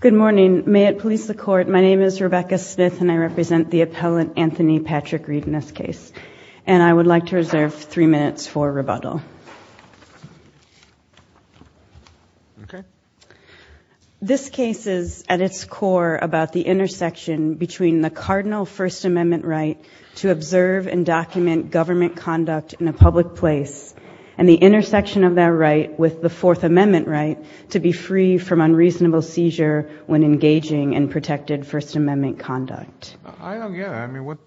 Good morning. May it please the court, my name is Rebecca Smith and I represent the appellant Anthony Patrick Reed in this case and I would like to reserve three minutes for rebuttal. This case is at its core about the intersection between the cardinal First Amendment right to observe and document government conduct in a public place and the intersection of that right with the Fourth Amendment right to be free from unreasonable seizure when engaging in protected First Amendment conduct. I don't get it. I mean what,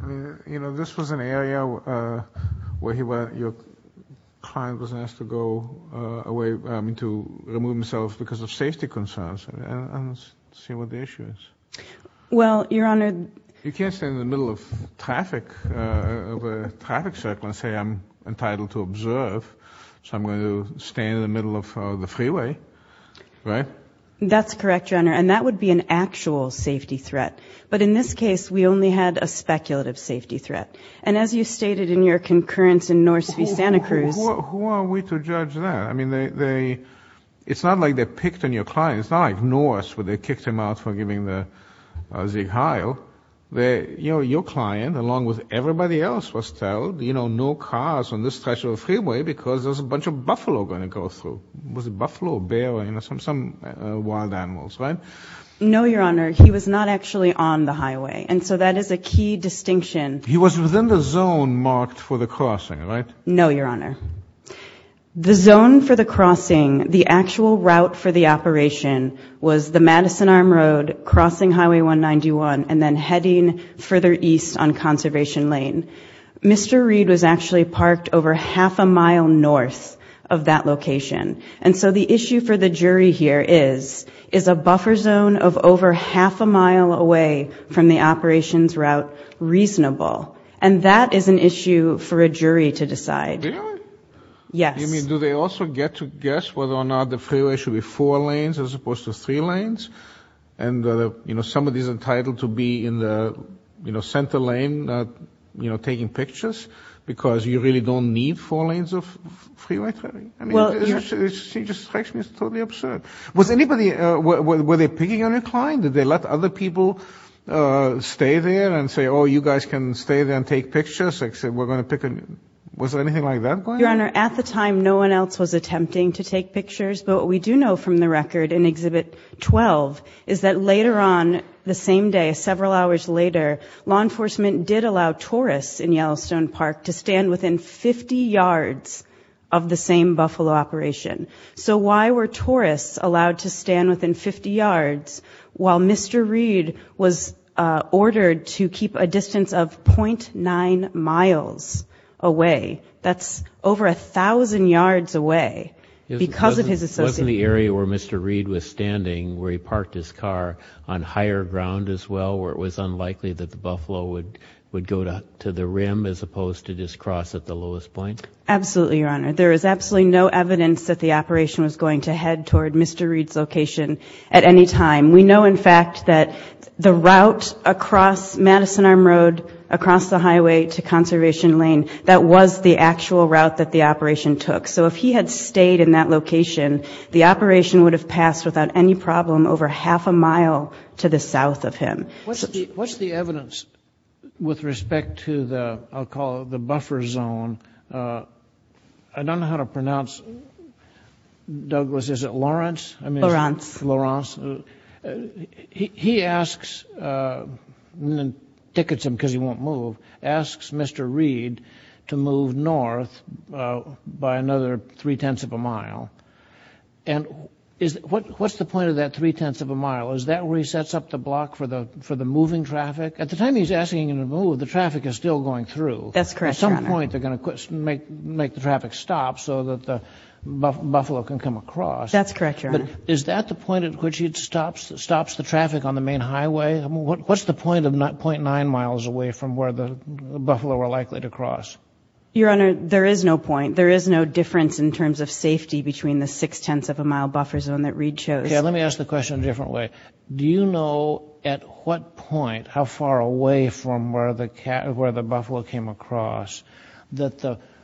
you know, this was an area where he went, your client was asked to go away, I mean to remove himself because of safety concerns and let's see what the issue is. Well, Your Honor. You can't stand in the middle of traffic, of a traffic circle and say I'm entitled to observe so I'm going to stand in the middle of the freeway, right? That's correct, Your Honor, and that would be an actual safety threat but in this case we only had a speculative safety threat and as you stated in your concurrence in Norse v. Santa Cruz. Who are we to judge that? I mean they, it's not like they picked on your client. It's not like Norse where they kicked him out for giving the Zieg Heil. They, you know, your client along with everybody else was told, you know, no cars on this stretch of freeway because there's a bunch of buffalo going to go through. Was it buffalo, bear, you know, some wild animals, right? No, Your Honor. He was not actually on the highway and so that is a key distinction. He was within the zone marked for the crossing, right? No, Your Honor. The zone for the crossing, the actual route for the operation was the Madison Arm Road crossing Highway 191 and then heading further east on that location and so the issue for the jury here is, is a buffer zone of over half a mile away from the operations route reasonable and that is an issue for a jury to decide. Really? Yes. You mean do they also get to guess whether or not the freeway should be four lanes as opposed to three lanes and, you know, somebody's entitled to be in the, you know, center lane, you know, taking pictures because you really don't need four lanes of freeway traffic? She just strikes me as totally absurd. Was anybody, were they picking on a client? Did they let other people stay there and say, oh, you guys can stay there and take pictures except we're going to pick a, was there anything like that going on? Your Honor, at the time no one else was attempting to take pictures but what we do know from the record in Exhibit 12 is that later on the same day, several hours later, law enforcement did allow tourists in Yellowstone Park to stand within 50 yards of the same Buffalo operation. So why were tourists allowed to stand within 50 yards while Mr. Reed was ordered to keep a distance of 0.9 miles away? That's over a thousand yards away because of his association. Wasn't the area where Mr. Reed was standing where he parked his car on higher ground as well where it was unlikely that the Buffalo would go to the rim as opposed to just cross at the lowest point? Absolutely, Your Honor. There is absolutely no evidence that the operation was going to head toward Mr. Reed's location at any time. We know, in fact, that the route across Madison Arm Road, across the highway to Conservation Lane, that was the actual route that the operation took. So if he had stayed in that location, the operation would have passed without any problem over half a mile to the south of Madison. With respect to the, I'll call it the buffer zone, I don't know how to pronounce Douglas, is it Lawrence? Lawrence. He asks, and then tickets him because he won't move, asks Mr. Reed to move north by another three-tenths of a mile. And what's the point of that three-tenths of a mile? Is that where he is asking him to move? The traffic is still going through. That's correct. At some point they're going to make the traffic stop so that the Buffalo can come across. That's correct, Your Honor. But is that the point at which it stops the traffic on the main highway? What's the point of 0.9 miles away from where the Buffalo were likely to cross? Your Honor, there is no point. There is no difference in terms of safety between the six-tenths of a mile buffer zone that Reed chose. Okay, let me ask the question in a different way. Do you know at what point, how far away from where the Buffalo came across, that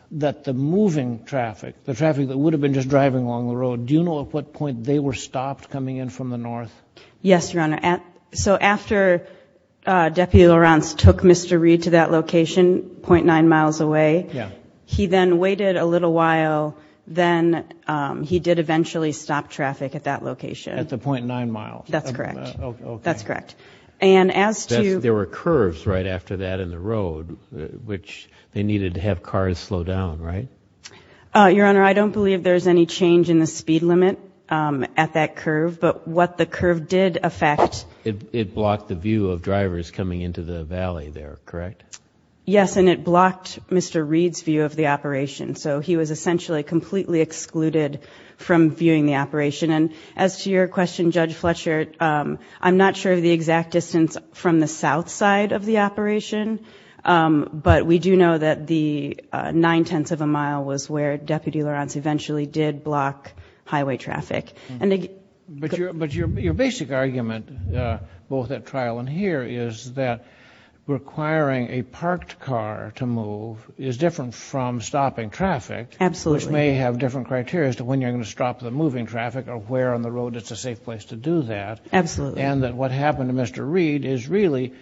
the moving traffic, the traffic that would have been just driving along the road, do you know at what point they were stopped coming in from the north? Yes, Your Honor. So after Deputy Lawrence took Mr. Reed to that location, 0.9 miles away, he then waited a little while, then he did eventually stop traffic at that There were curves right after that in the road, which they needed to have cars slow down, right? Your Honor, I don't believe there's any change in the speed limit at that curve, but what the curve did affect... It blocked the view of drivers coming into the valley there, correct? Yes, and it blocked Mr. Reed's view of the operation. So he was essentially completely excluded from viewing the operation. And as to your question, Judge Fletcher, I'm not sure of the exact distance from the south side of the operation, but we do know that the nine-tenths of a mile was where Deputy Lawrence eventually did block highway traffic. But your basic argument, both at trial and here, is that requiring a parked car to move is different from stopping traffic, which may have different criteria as to when you're going to stop the moving traffic or where on the road it's a safe place to do that. Absolutely. And that what happened to Mr. Reed is really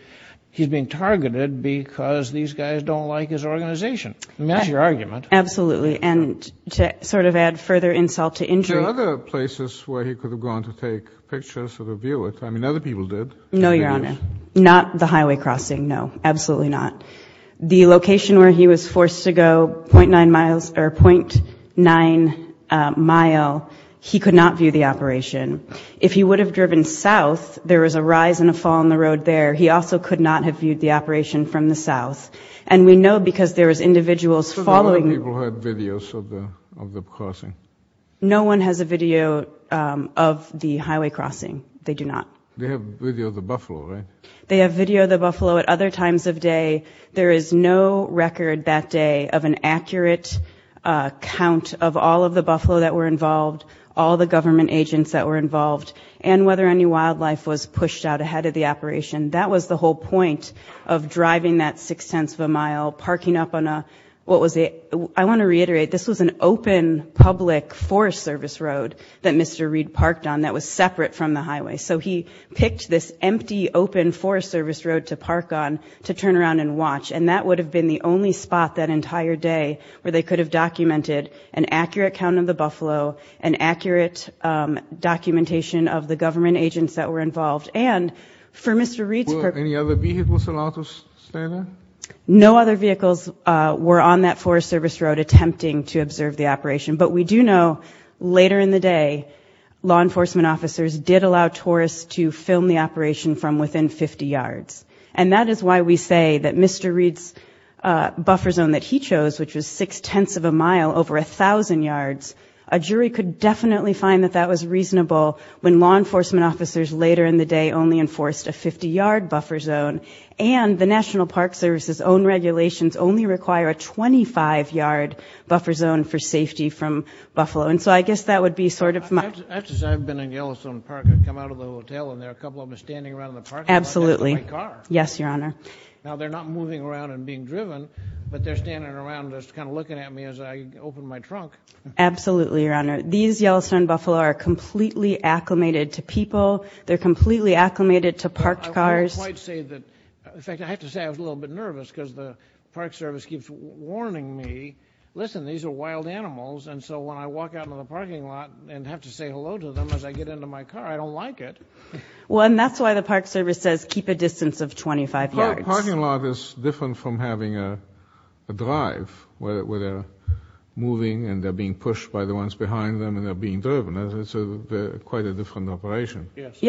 he's being targeted because these guys don't like his organization. That's your argument. Absolutely. And to sort of add further insult to injury... Are there other places where he could have gone to take pictures of the view? I mean, other people did. No, Your Honor. Not the highway crossing, no. Absolutely not. The location where he was forced to go .9 miles or .9 mile, he could not view the operation. If he would have driven south, there was a rise and a fall on the road there. He also could not have viewed the operation from the south. And we know because there was individuals following... So the other people had videos of the crossing? No one has a video of the highway crossing. They do not. They have video of the Buffalo, right? They have video of the Buffalo at other times of day. There is no record that day of an accurate count of all of the Buffalo that were involved, all the government agents that were involved, and whether any wildlife was pushed out ahead of the operation. That was the whole point of driving that .6 of a mile, parking up on a... I want to reiterate, this was an open public Forest Service road that Mr. Reed parked on that was separate from the highway. So he picked this empty, open Forest Service road to park on to turn around and watch. And that would have been the only spot that entire day where they could have documented an accurate count of the agents that were involved. And for Mr. Reed's... Were any other vehicles allowed to stay there? No other vehicles were on that Forest Service road attempting to observe the operation. But we do know later in the day, law enforcement officers did allow tourists to film the operation from within 50 yards. And that is why we say that Mr. Reed's buffer zone that he chose, which was six-tenths of a mile over a thousand yards, a jury could definitely find that that was reasonable when law enforcement officers later in the day only enforced a 50-yard buffer zone. And the National Park Service's own regulations only require a 25-yard buffer zone for safety from Buffalo. And so I guess that would be sort of... I have to say, I've been in Yellowstone Park. I've come out of the hotel and there are a couple of them standing around in the parking lot... Absolutely. Yes, Your Honor. Now they're not moving around and being driven, but they're standing around just kind of looking at me as I open my trunk. Absolutely, Your Honor. These Yellowstone Buffalo are completely acclimated to people. They're completely acclimated to parked cars. I won't quite say that... in fact, I have to say I was a little bit nervous because the Park Service keeps warning me, listen, these are wild animals. And so when I walk out of the parking lot and have to say hello to them as I get into my car, I don't like it. Well, and that's why the Park Service says keep a distance of 25 yards. No, a parking lot is different from having a drive where they're moving and they're being pushed by the ones behind them and they're being driven. It's quite a different operation. Yes,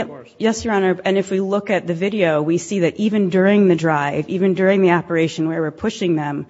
Your Honor. And if we look at the video, we see that even during the drive, even during the operation where we're pushing them,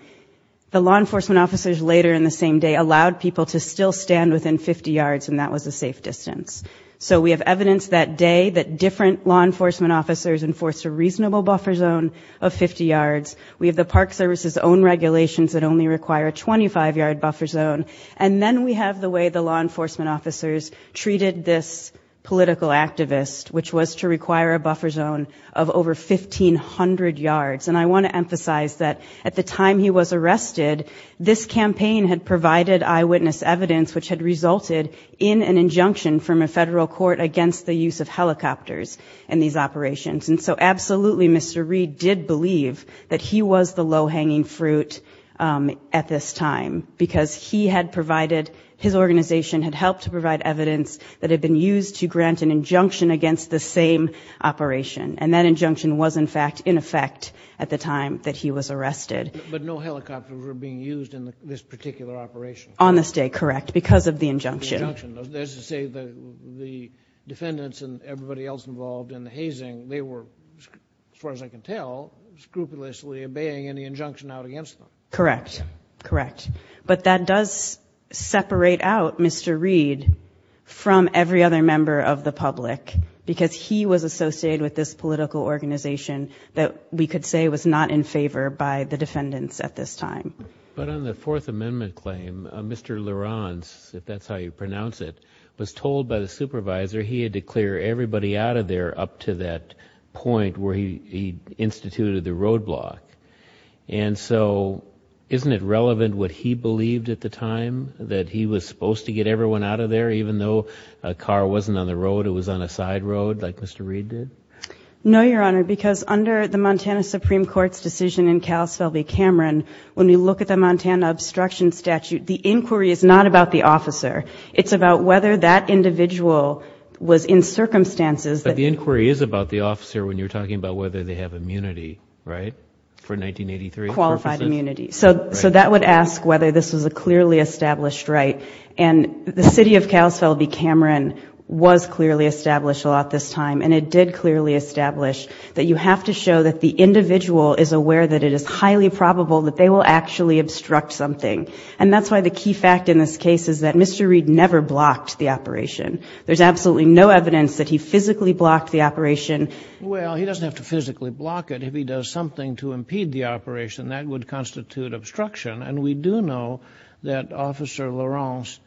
the law enforcement officers later in the same day allowed people to still stand within 50 yards and that was a safe distance. So we have evidence that day that different law enforcement officers enforced a reasonable buffer zone of 50 yards. We have the Park Service's own regulations that only require a 25-yard buffer zone. And then we have the way the law enforcement officers treated this political activist, which was to require a buffer zone of over 1,500 yards. And I want to emphasize that at the time he was arrested, this campaign had provided eyewitness evidence which had resulted in an injunction from a federal court against the use of helicopters in these operations. And so absolutely, Mr. Reed did believe that he was the low-hanging fruit at this time because he had provided, his organization had helped to provide evidence that had been used to grant an injunction against the same operation. And that injunction was, in fact, in effect at the time that he was arrested. But no helicopters were being used in this particular operation? On this day, correct, because of the injunction. There's a say that the defendants and everybody else involved in the hazing, they were, as far as I can tell, scrupulously obeying any injunction out against them. Correct. Correct. But that does separate out Mr. Reed from every other member of the public because he was associated with this political organization that we could say was not in favor by the defendants at this time. But on the Fourth Amendment claim, Mr. Laurance, if that's how you pronounce it, was told by the supervisor he had to clear everybody out of there up to that point where he instituted the roadblock. And so, isn't it relevant what he believed at the time? That he was supposed to get everyone out of there even though a car wasn't on the road, it was on a side road like Mr. Reed did? No, Your Honor, because under the Montana Supreme Court's decision in Kalispell v. Cameron, when you look at the Montana Obstruction Statute, the inquiry is not about the officer. It's about whether that individual was in circumstances that... But the inquiry is about the officer when you're talking about whether they have immunity, right? For 1983 purposes? Qualified immunity. So that would ask whether this was a clearly established right. And the city of Kalispell v. Cameron was clearly established a lot this time. And it did clearly establish that you have to show that the individual is aware that it is highly probable that they will actually obstruct something. And that's why the key fact in this case is that Mr. Reed never blocked the operation. There's absolutely no evidence that he physically blocked the operation. Well, he doesn't have to physically block it. If he does something to impede the operation, that would constitute obstruction. And we do know that Officer LaRance,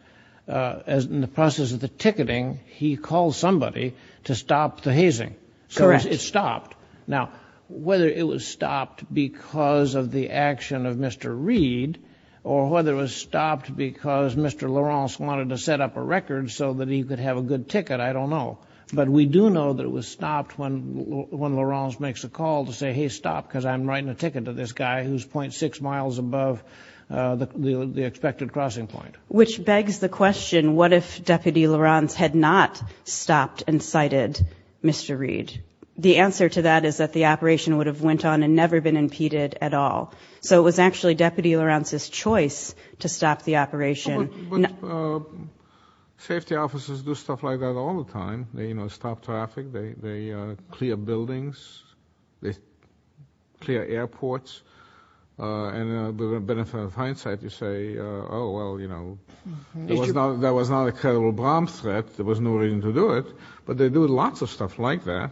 in the process of the ticketing, he called somebody to stop the hazing. Correct. So it stopped. Now, whether it was stopped because of the action of Mr. Reed, or whether it was stopped because Mr. LaRance wanted to set up a record so that he could have a good ticket, I don't know. But we do know that it was stopped when LaRance makes a call to say, hey, stop, because I'm writing a ticket to this guy who's 0.6 miles above the expected crossing point. Which begs the question, what if Deputy LaRance had not stopped and cited Mr. Reed? The answer to that is that the operation would have went on and never been impeded at all. So it was actually Deputy LaRance's choice to stop the operation. But safety officers do stuff like that all the time. They stop traffic. They clear buildings. They clear airports. And with a benefit of hindsight, you say, oh, well, you know, that was not a credible bomb threat. There was no reason to do it. But they do lots of stuff like that.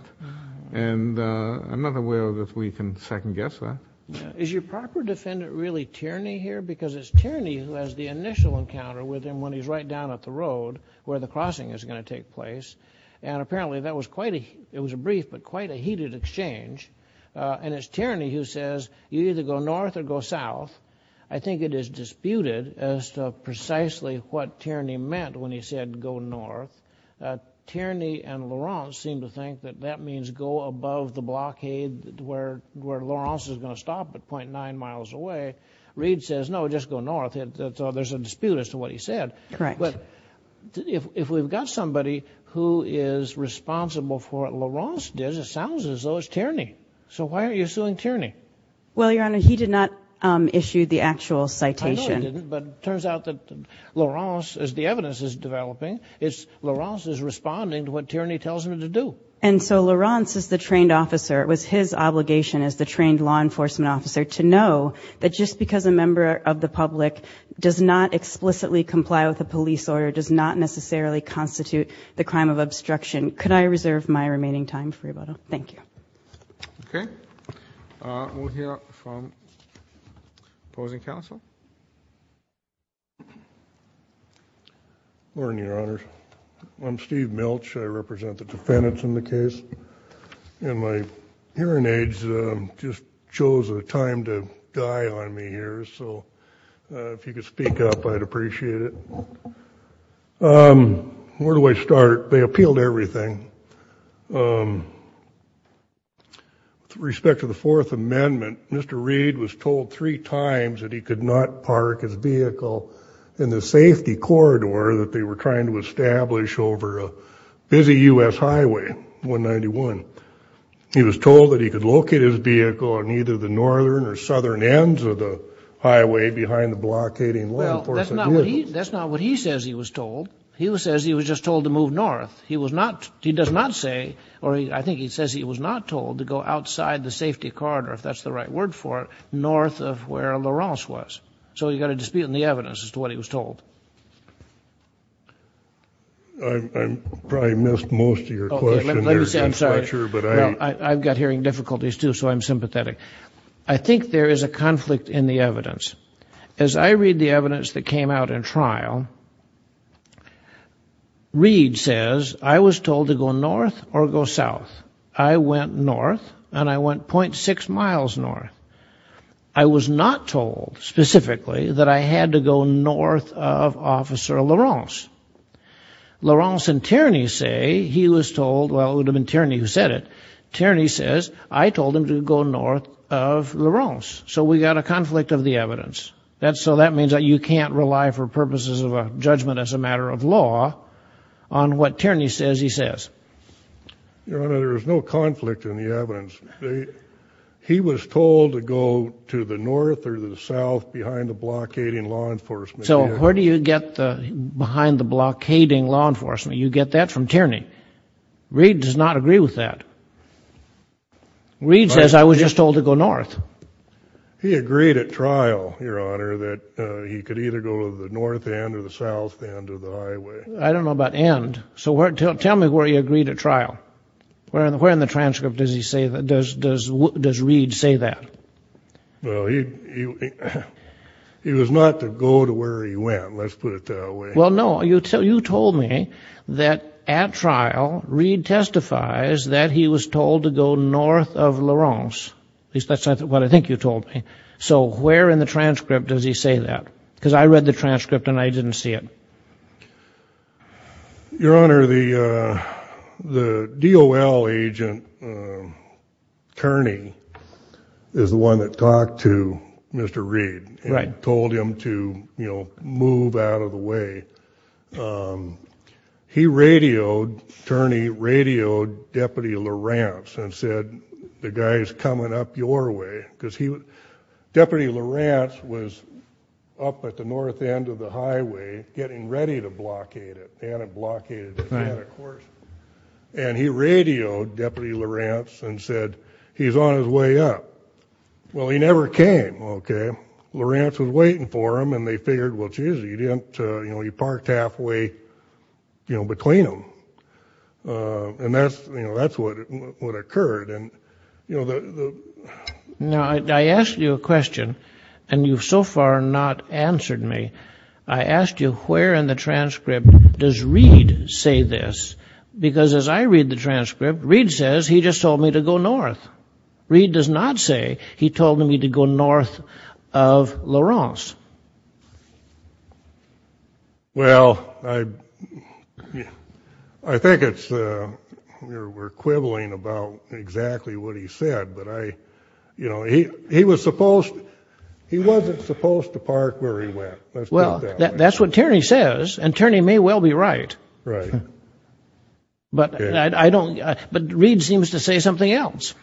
And I'm not aware that we can second guess that. Is your proper defendant really Tierney here? Because it's Tierney who has the initial encounter with him when he's right down at the road where the crossing is going to take place. And apparently that was quite a it was a brief but quite a heated exchange. And it's Tierney who says you either go north or go south. I think it is disputed as to precisely what Tierney meant when he said go north. Tierney and LaRance seem to think that that means go above the blockade where LaRance is going to stop at point nine miles away. Reid says, no, just go north. There's a dispute as to what he said. But if we've got somebody who is responsible for LaRance, it sounds as though it's Tierney. So why are you suing Tierney? Well, Your Honor, he did not issue the actual citation. But it turns out that LaRance, as the evidence is developing, is LaRance is responding to what Tierney tells him to do. And so LaRance is the trained officer. It was his obligation as the trained law enforcement officer to know that just because a member of the public does not explicitly comply with a police order, does not necessarily constitute the crime of obstruction. Could I reserve my remaining time for rebuttal? Thank you. OK. We'll hear from opposing counsel. Morning, Your Honor. I'm Steve Milch. I represent the defendants in the case. And my hearing aids just chose a time to die on me here. So if you could speak up, I'd appreciate it. Where do I start? They appealed everything. With respect to the Fourth Amendment, Mr. Reed was told three times that he could not park his vehicle in the safety corridor that they were trying to establish over a busy U.S. highway, 191. He was told that he could locate his vehicle on either the northern or southern ends of the highway behind the blockading law enforcement vehicles. Well, that's not what he says he was told. He says he was just told to move north. He does not say, or I think he says he was not told to go outside the safety corridor, if that's the right word for it, north of where LaRance was. So you've got a dispute in the evidence as to what he was told. I probably missed most of your question there, Mr. Fletcher. I've got hearing difficulties, too, so I'm sympathetic. I think there is a conflict in the evidence. As I read the evidence that came out in trial, Reed says, I was told to go north or go south. I went north, and I went .6 miles north. I was not told specifically that I had to go north of Officer LaRance. LaRance and Tierney say he was told, well, it would have been Tierney who said it, Tierney says, I told him to go north of LaRance. So we've got a conflict of the evidence. So that means that you can't rely for purposes of a judgment as a matter of law on what Tierney says he says. Your Honor, there is no conflict in the evidence. He was told to go to the north or the south behind the blockading law enforcement. So where do you get the behind the blockading law enforcement? You get that from Tierney. Reed does not agree with that. Reed says, I was just told to go north. He agreed at trial, Your Honor, that he could either go to the north end or the south end of the highway. I don't know about end. So tell me where he agreed at trial. Where in the transcript does Reed say that? Well, he was not to go to where he went, let's put it that way. Well, no, you told me that at trial, Reed testifies that he was told to go north of LaRance. At least that's what I think you told me. So where in the transcript does he say that? Because I read the transcript and I didn't see it. Your Honor, the DOL agent, Tierney, is the one that talked to Mr. Reed and told him to move out of the way. He radioed, Tierney radioed Deputy LaRance and said, the guy is coming up your way. Deputy LaRance was up at the north end of the highway getting ready to blockade it, and it blockaded it. And he radioed Deputy LaRance and said, he's on his way up. Well, he never came, okay. LaRance was waiting for him, and they figured, well, geez, he parked halfway between them. And that's what occurred. Now, I asked you a question, and you've so far not answered me. I asked you, where in the transcript does Reed say this? Because as I read the transcript, Reed says, he just told me to go north. Reed does not say, he told me to go north of LaRance. Well, I think it's, we're quibbling about exactly what he said, but I, you know, he was supposed, he wasn't supposed to park where he went. Well, that's what Tierney says, and Tierney may well be right. Right. But I don't, but Reed seems to say something else.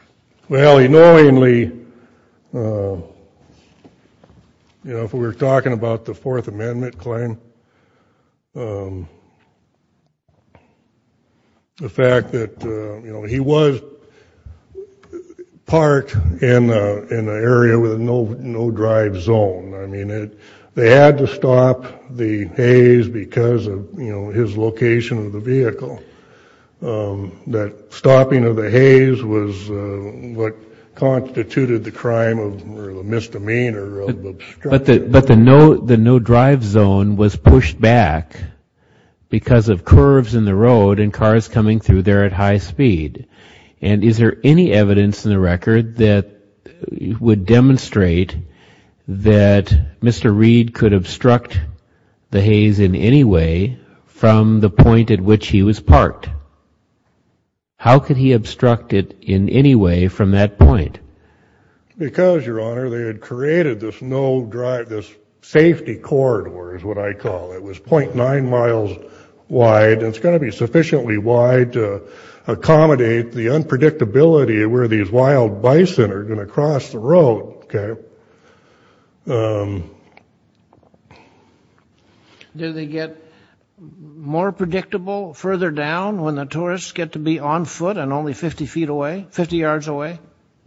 Well, annoyingly, you know, if we were talking about the Fourth Amendment claim, the fact that, you know, he was parked in an area with no drive zone. I mean, they had to stop the Hays because of, you know, his location of the vehicle. That stopping of the Hays was what constituted the crime of misdemeanor of obstruction. But the no drive zone was pushed back because of curves in the road and cars coming through there at high speed. And is there any evidence in the record that would demonstrate that Mr. Reed could obstruct the Hays in any way from the point at which he was parked? How could he obstruct it in any way from that point? Because, Your Honor, they had created this no drive, this safety corridor is what I call it. It was 0.9 miles wide. It's going to be sufficiently wide to accommodate the unpredictability of where these wild bison are going to cross the road. OK. Did they get more predictable further down when the tourists get to be on foot and only 50 feet away, 50 yards away?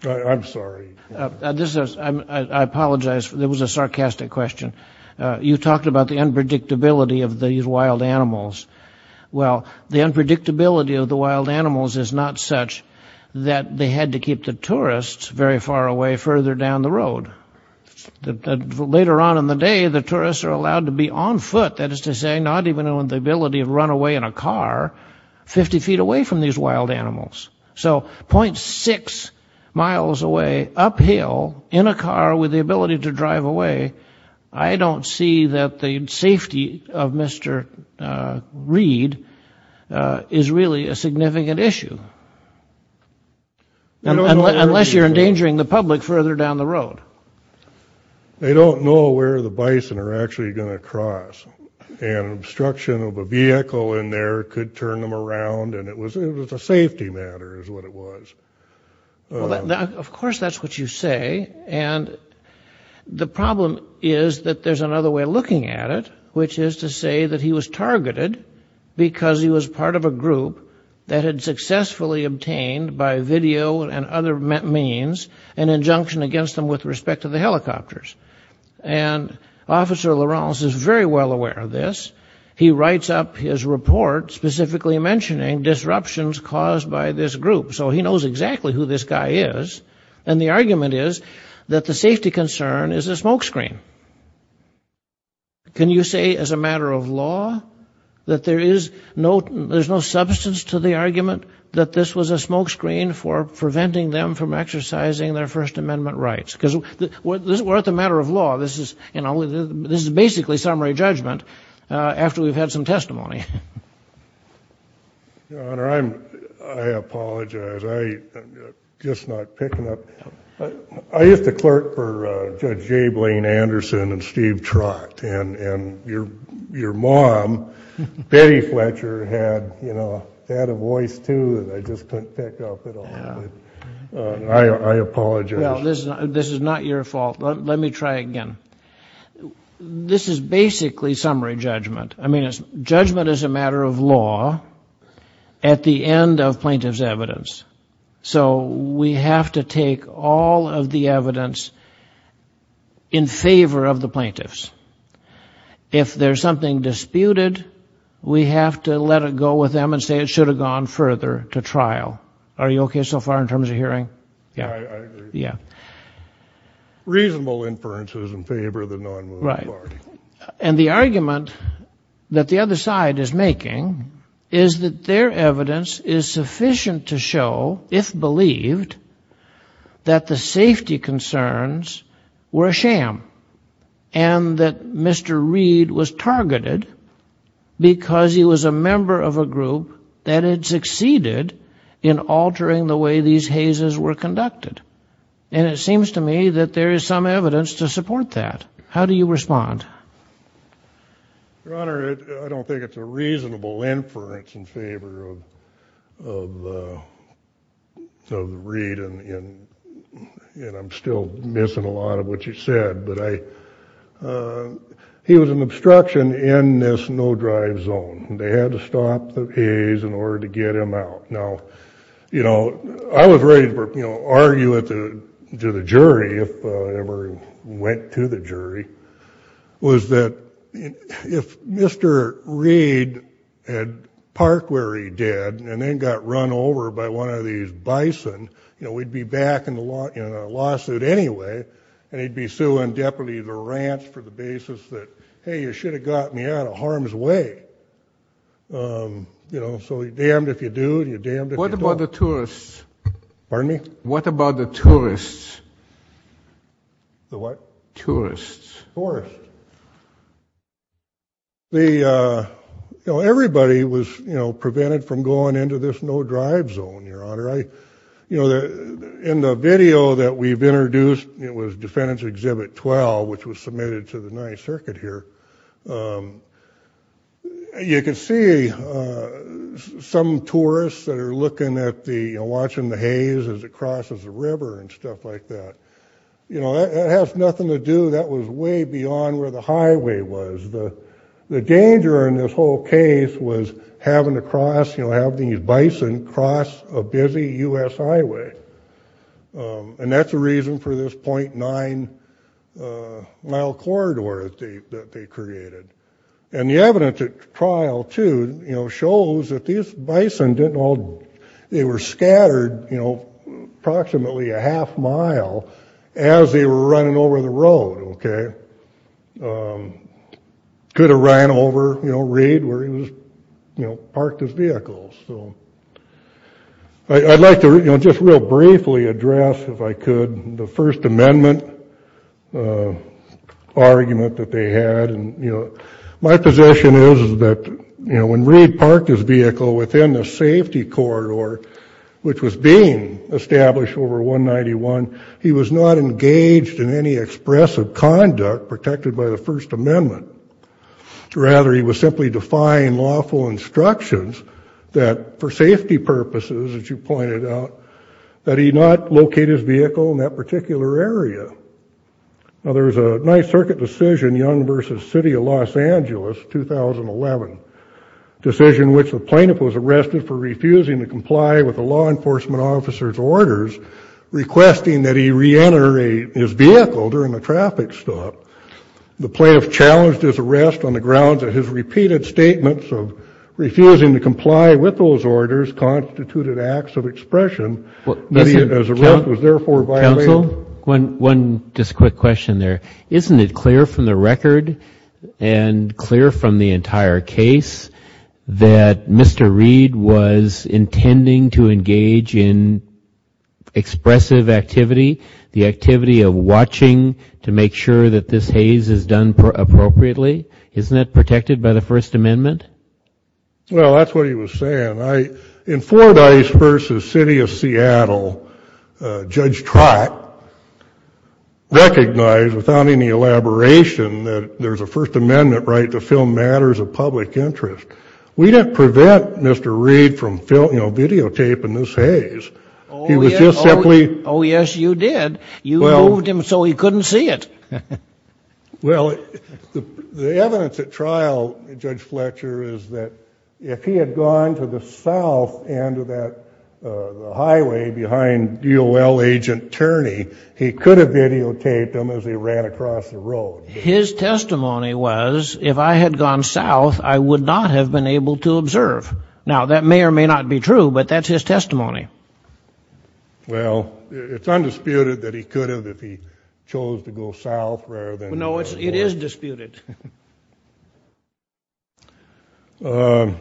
I'm sorry. This is I apologize. There was a sarcastic question. You talked about the unpredictability of these wild animals. Well, the unpredictability of the wild animals is not such that they had to keep the tourists very far away further down the road. Later on in the day, the tourists are allowed to be on foot. That is to say, not even on the ability to run away in a car 50 feet away from these wild animals. So 0.6 miles away uphill in a car with the ability to drive away. I don't see that the safety of Mr. Reed is really a significant issue. Unless you're endangering the public further down the road. They don't know where the bison are actually going to cross. And obstruction of a vehicle in there could turn them around. And it was a safety matter is what it was. Of course, that's what you say. And the problem is that there's another way of looking at it, which is to say that he was targeted because he was part of a group that had successfully obtained by video and other means an injunction against them with respect to the helicopters. And Officer Lawrence is very well aware of this. He writes up his report specifically mentioning disruptions caused by this group. So he knows exactly who this guy is. And the argument is that the safety concern is a smokescreen. Can you say as a matter of law that there is no there's no substance to the argument that this was a smokescreen for preventing them from exercising their First Amendment rights? Because we're at the matter of law. This is basically summary judgment after we've had some testimony. Your Honor, I apologize. I'm just not picking up. I used to clerk for Judge J. Blaine Anderson and Steve Trott. And your mom, Betty Fletcher, had a voice, too, that I just couldn't pick up at all. I apologize. Well, this is not your fault. Let me try again. This is basically summary judgment. I mean, judgment is a matter of law at the end of plaintiff's evidence. So we have to take all of the evidence in favor of the plaintiffs. If there's something disputed, we have to let it go with them and say it should have gone further to trial. Are you OK so far in terms of hearing? Yeah. Yeah. Reasonable inferences in favor of the non-movement party. Right. And the argument that the other side is making is that their evidence is sufficient to show, if believed, that the safety concerns were a sham and that Mr. Reed was targeted because he was a member of a group that had succeeded in altering the way these hazes were conducted. And it seems to me that there is some evidence to support that. How do you respond? Your Honor, I don't think it's a reasonable inference in favor of Reed. And I'm still missing a lot of what you said. But he was an obstruction in this no-drive zone. They had to stop the haze in order to get him out. Now, you know, I was ready to argue to the jury if I ever went to the jury, was that if Mr. Reed had parked where he did and then got run over by one of these bison, you know, we'd be back in a lawsuit anyway, and he'd be suing deputy of the ranch for the basis that, hey, you should have gotten me out of harm's way. You know, so you're damned if you do and you're damned if you don't. What about the tourists? Pardon me? What about the tourists? The what? Tourists. Tourists. The, you know, everybody was, you know, prevented from going into this no-drive zone, Your Honor. You know, in the video that we've introduced, it was Defendant's Exhibit 12, which was submitted to the Ninth Circuit here, you could see some tourists that are looking at the, you know, watching the haze as it crosses the river and stuff like that. You know, that has nothing to do, that was way beyond where the highway was. The danger in this whole case was having to cross, you know, have these bison cross a busy U.S. highway, and that's the reason for this .9-mile corridor that they created. And the evidence at trial, too, you know, shows that these bison didn't all, they were scattered, you know, approximately a half-mile as they were running over the road, okay? Could have ran over, you know, Reed where he was, you know, parked his vehicle. So I'd like to, you know, just real briefly address, if I could, the First Amendment argument that they had. And, you know, my position is that, you know, when Reed parked his vehicle within the safety corridor, which was being established over 191, he was not engaged in any expressive conduct protected by the First Amendment. Rather, he was simply defying lawful instructions that, for safety purposes, as you pointed out, that he not locate his vehicle in that particular area. Now, there was a Ninth Circuit decision, Young v. City of Los Angeles, 2011, decision which the plaintiff was arrested for refusing to comply with the law enforcement officer's orders, requesting that he reenter his vehicle during a traffic stop. The plaintiff challenged his arrest on the grounds of his repeated statements of refusing to comply with those orders constituted acts of expression, and his arrest was therefore violated. One just quick question there. Isn't it clear from the record and clear from the entire case that Mr. Reed was intending to engage in expressive activity, the activity of watching to make sure that this haze is done appropriately? Isn't that protected by the First Amendment? Well, that's what he was saying. In Fordyce v. City of Seattle, Judge Trott recognized, without any elaboration, that there's a First Amendment right to film matters of public interest. We didn't prevent Mr. Reed from, you know, videotaping this haze. Oh, yes, you did. You moved him so he couldn't see it. Well, the evidence at trial, Judge Fletcher, is that if he had gone to the south end of that highway behind UOL Agent Turney, he could have videotaped him as he ran across the road. His testimony was, if I had gone south, I would not have been able to observe. Now, that may or may not be true, but that's his testimony. Well, it's undisputed that he could have if he chose to go south rather than north. No, it is disputed. In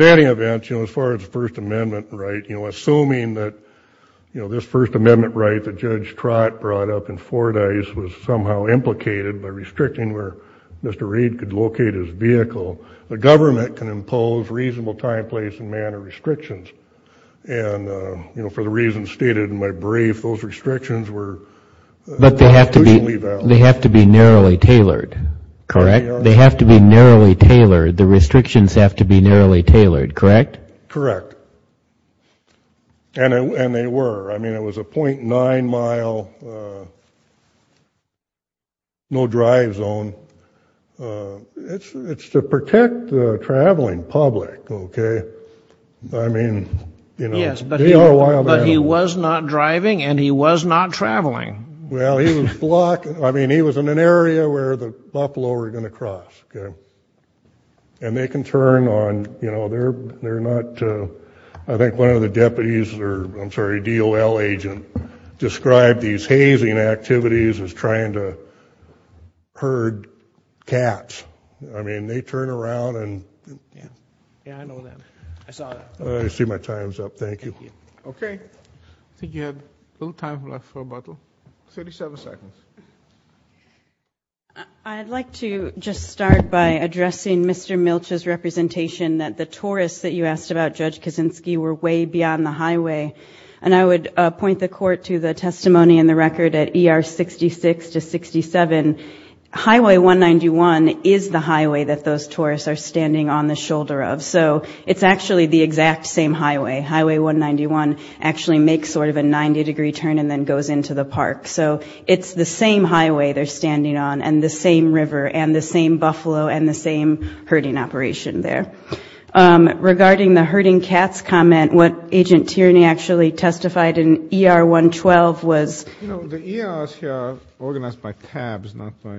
any event, as far as the First Amendment right, you know, assuming that, you know, this First Amendment right that Judge Trott brought up in Fordyce was somehow implicated by restricting where Mr. Reed could locate his vehicle, the government can impose reasonable time, place, and manner restrictions. And, you know, for the reasons stated in my brief, those restrictions were... But they have to be narrowly tailored, correct? They have to be narrowly tailored. The restrictions have to be narrowly tailored, correct? Correct. And they were. I mean, it was a .9-mile no-drive zone. It's to protect the traveling public, okay? I mean, you know, they are wild animals. Yes, but he was not driving and he was not traveling. Well, he was blocked. I mean, he was in an area where the Buffalo were going to cross, okay? And they can turn on, you know, they're not, I think one of the deputies or, I'm sorry, a DOL agent described these hazing activities as trying to herd cats. I mean, they turn around and... Yeah, I know that. I saw that. I see my time's up. Thank you. Okay. I think you have a little time left for rebuttal. 37 seconds. I'd like to just start by addressing Mr. Milch's representation that the tourists that you asked about, Judge Kaczynski, were way beyond the highway. And I would point the Court to the testimony in the record at ER 66 to 67. Highway 191 is the highway that those tourists are standing on the shoulder of. So it's actually the exact same highway. Highway 191 actually makes sort of a 90-degree turn and then goes into the park. So it's the same highway they're standing on and the same river and the same buffalo and the same herding operation there. Regarding the herding cats comment, what Agent Tierney actually testified in ER 112 was... You know, the ERs here are organized by tabs, not by...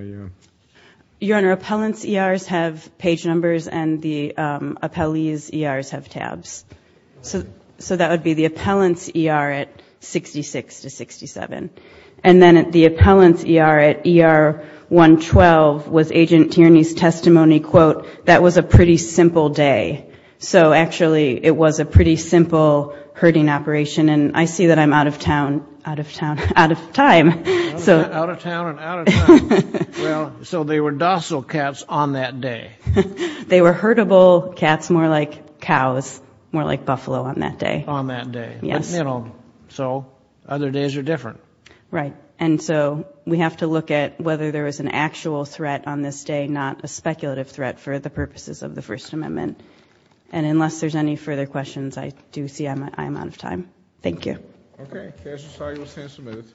Your Honor, appellants' ERs have page numbers and the appellee's ERs have tabs. So that would be the appellant's ER at 66 to 67. And then the appellant's ER at ER 112 was Agent Tierney's testimony, quote, that was a pretty simple day. So actually it was a pretty simple herding operation. And I see that I'm out of town, out of time. Out of town and out of time. Well, so they were docile cats on that day. They were herdable cats, more like cows, more like buffalo on that day. On that day. Yes. But, you know, so other days are different. Right. And so we have to look at whether there was an actual threat on this day, not a speculative threat for the purposes of the First Amendment. And unless there's any further questions, I do see I'm out of time. Thank you. Okay. The case is signed. We'll stand for a minute.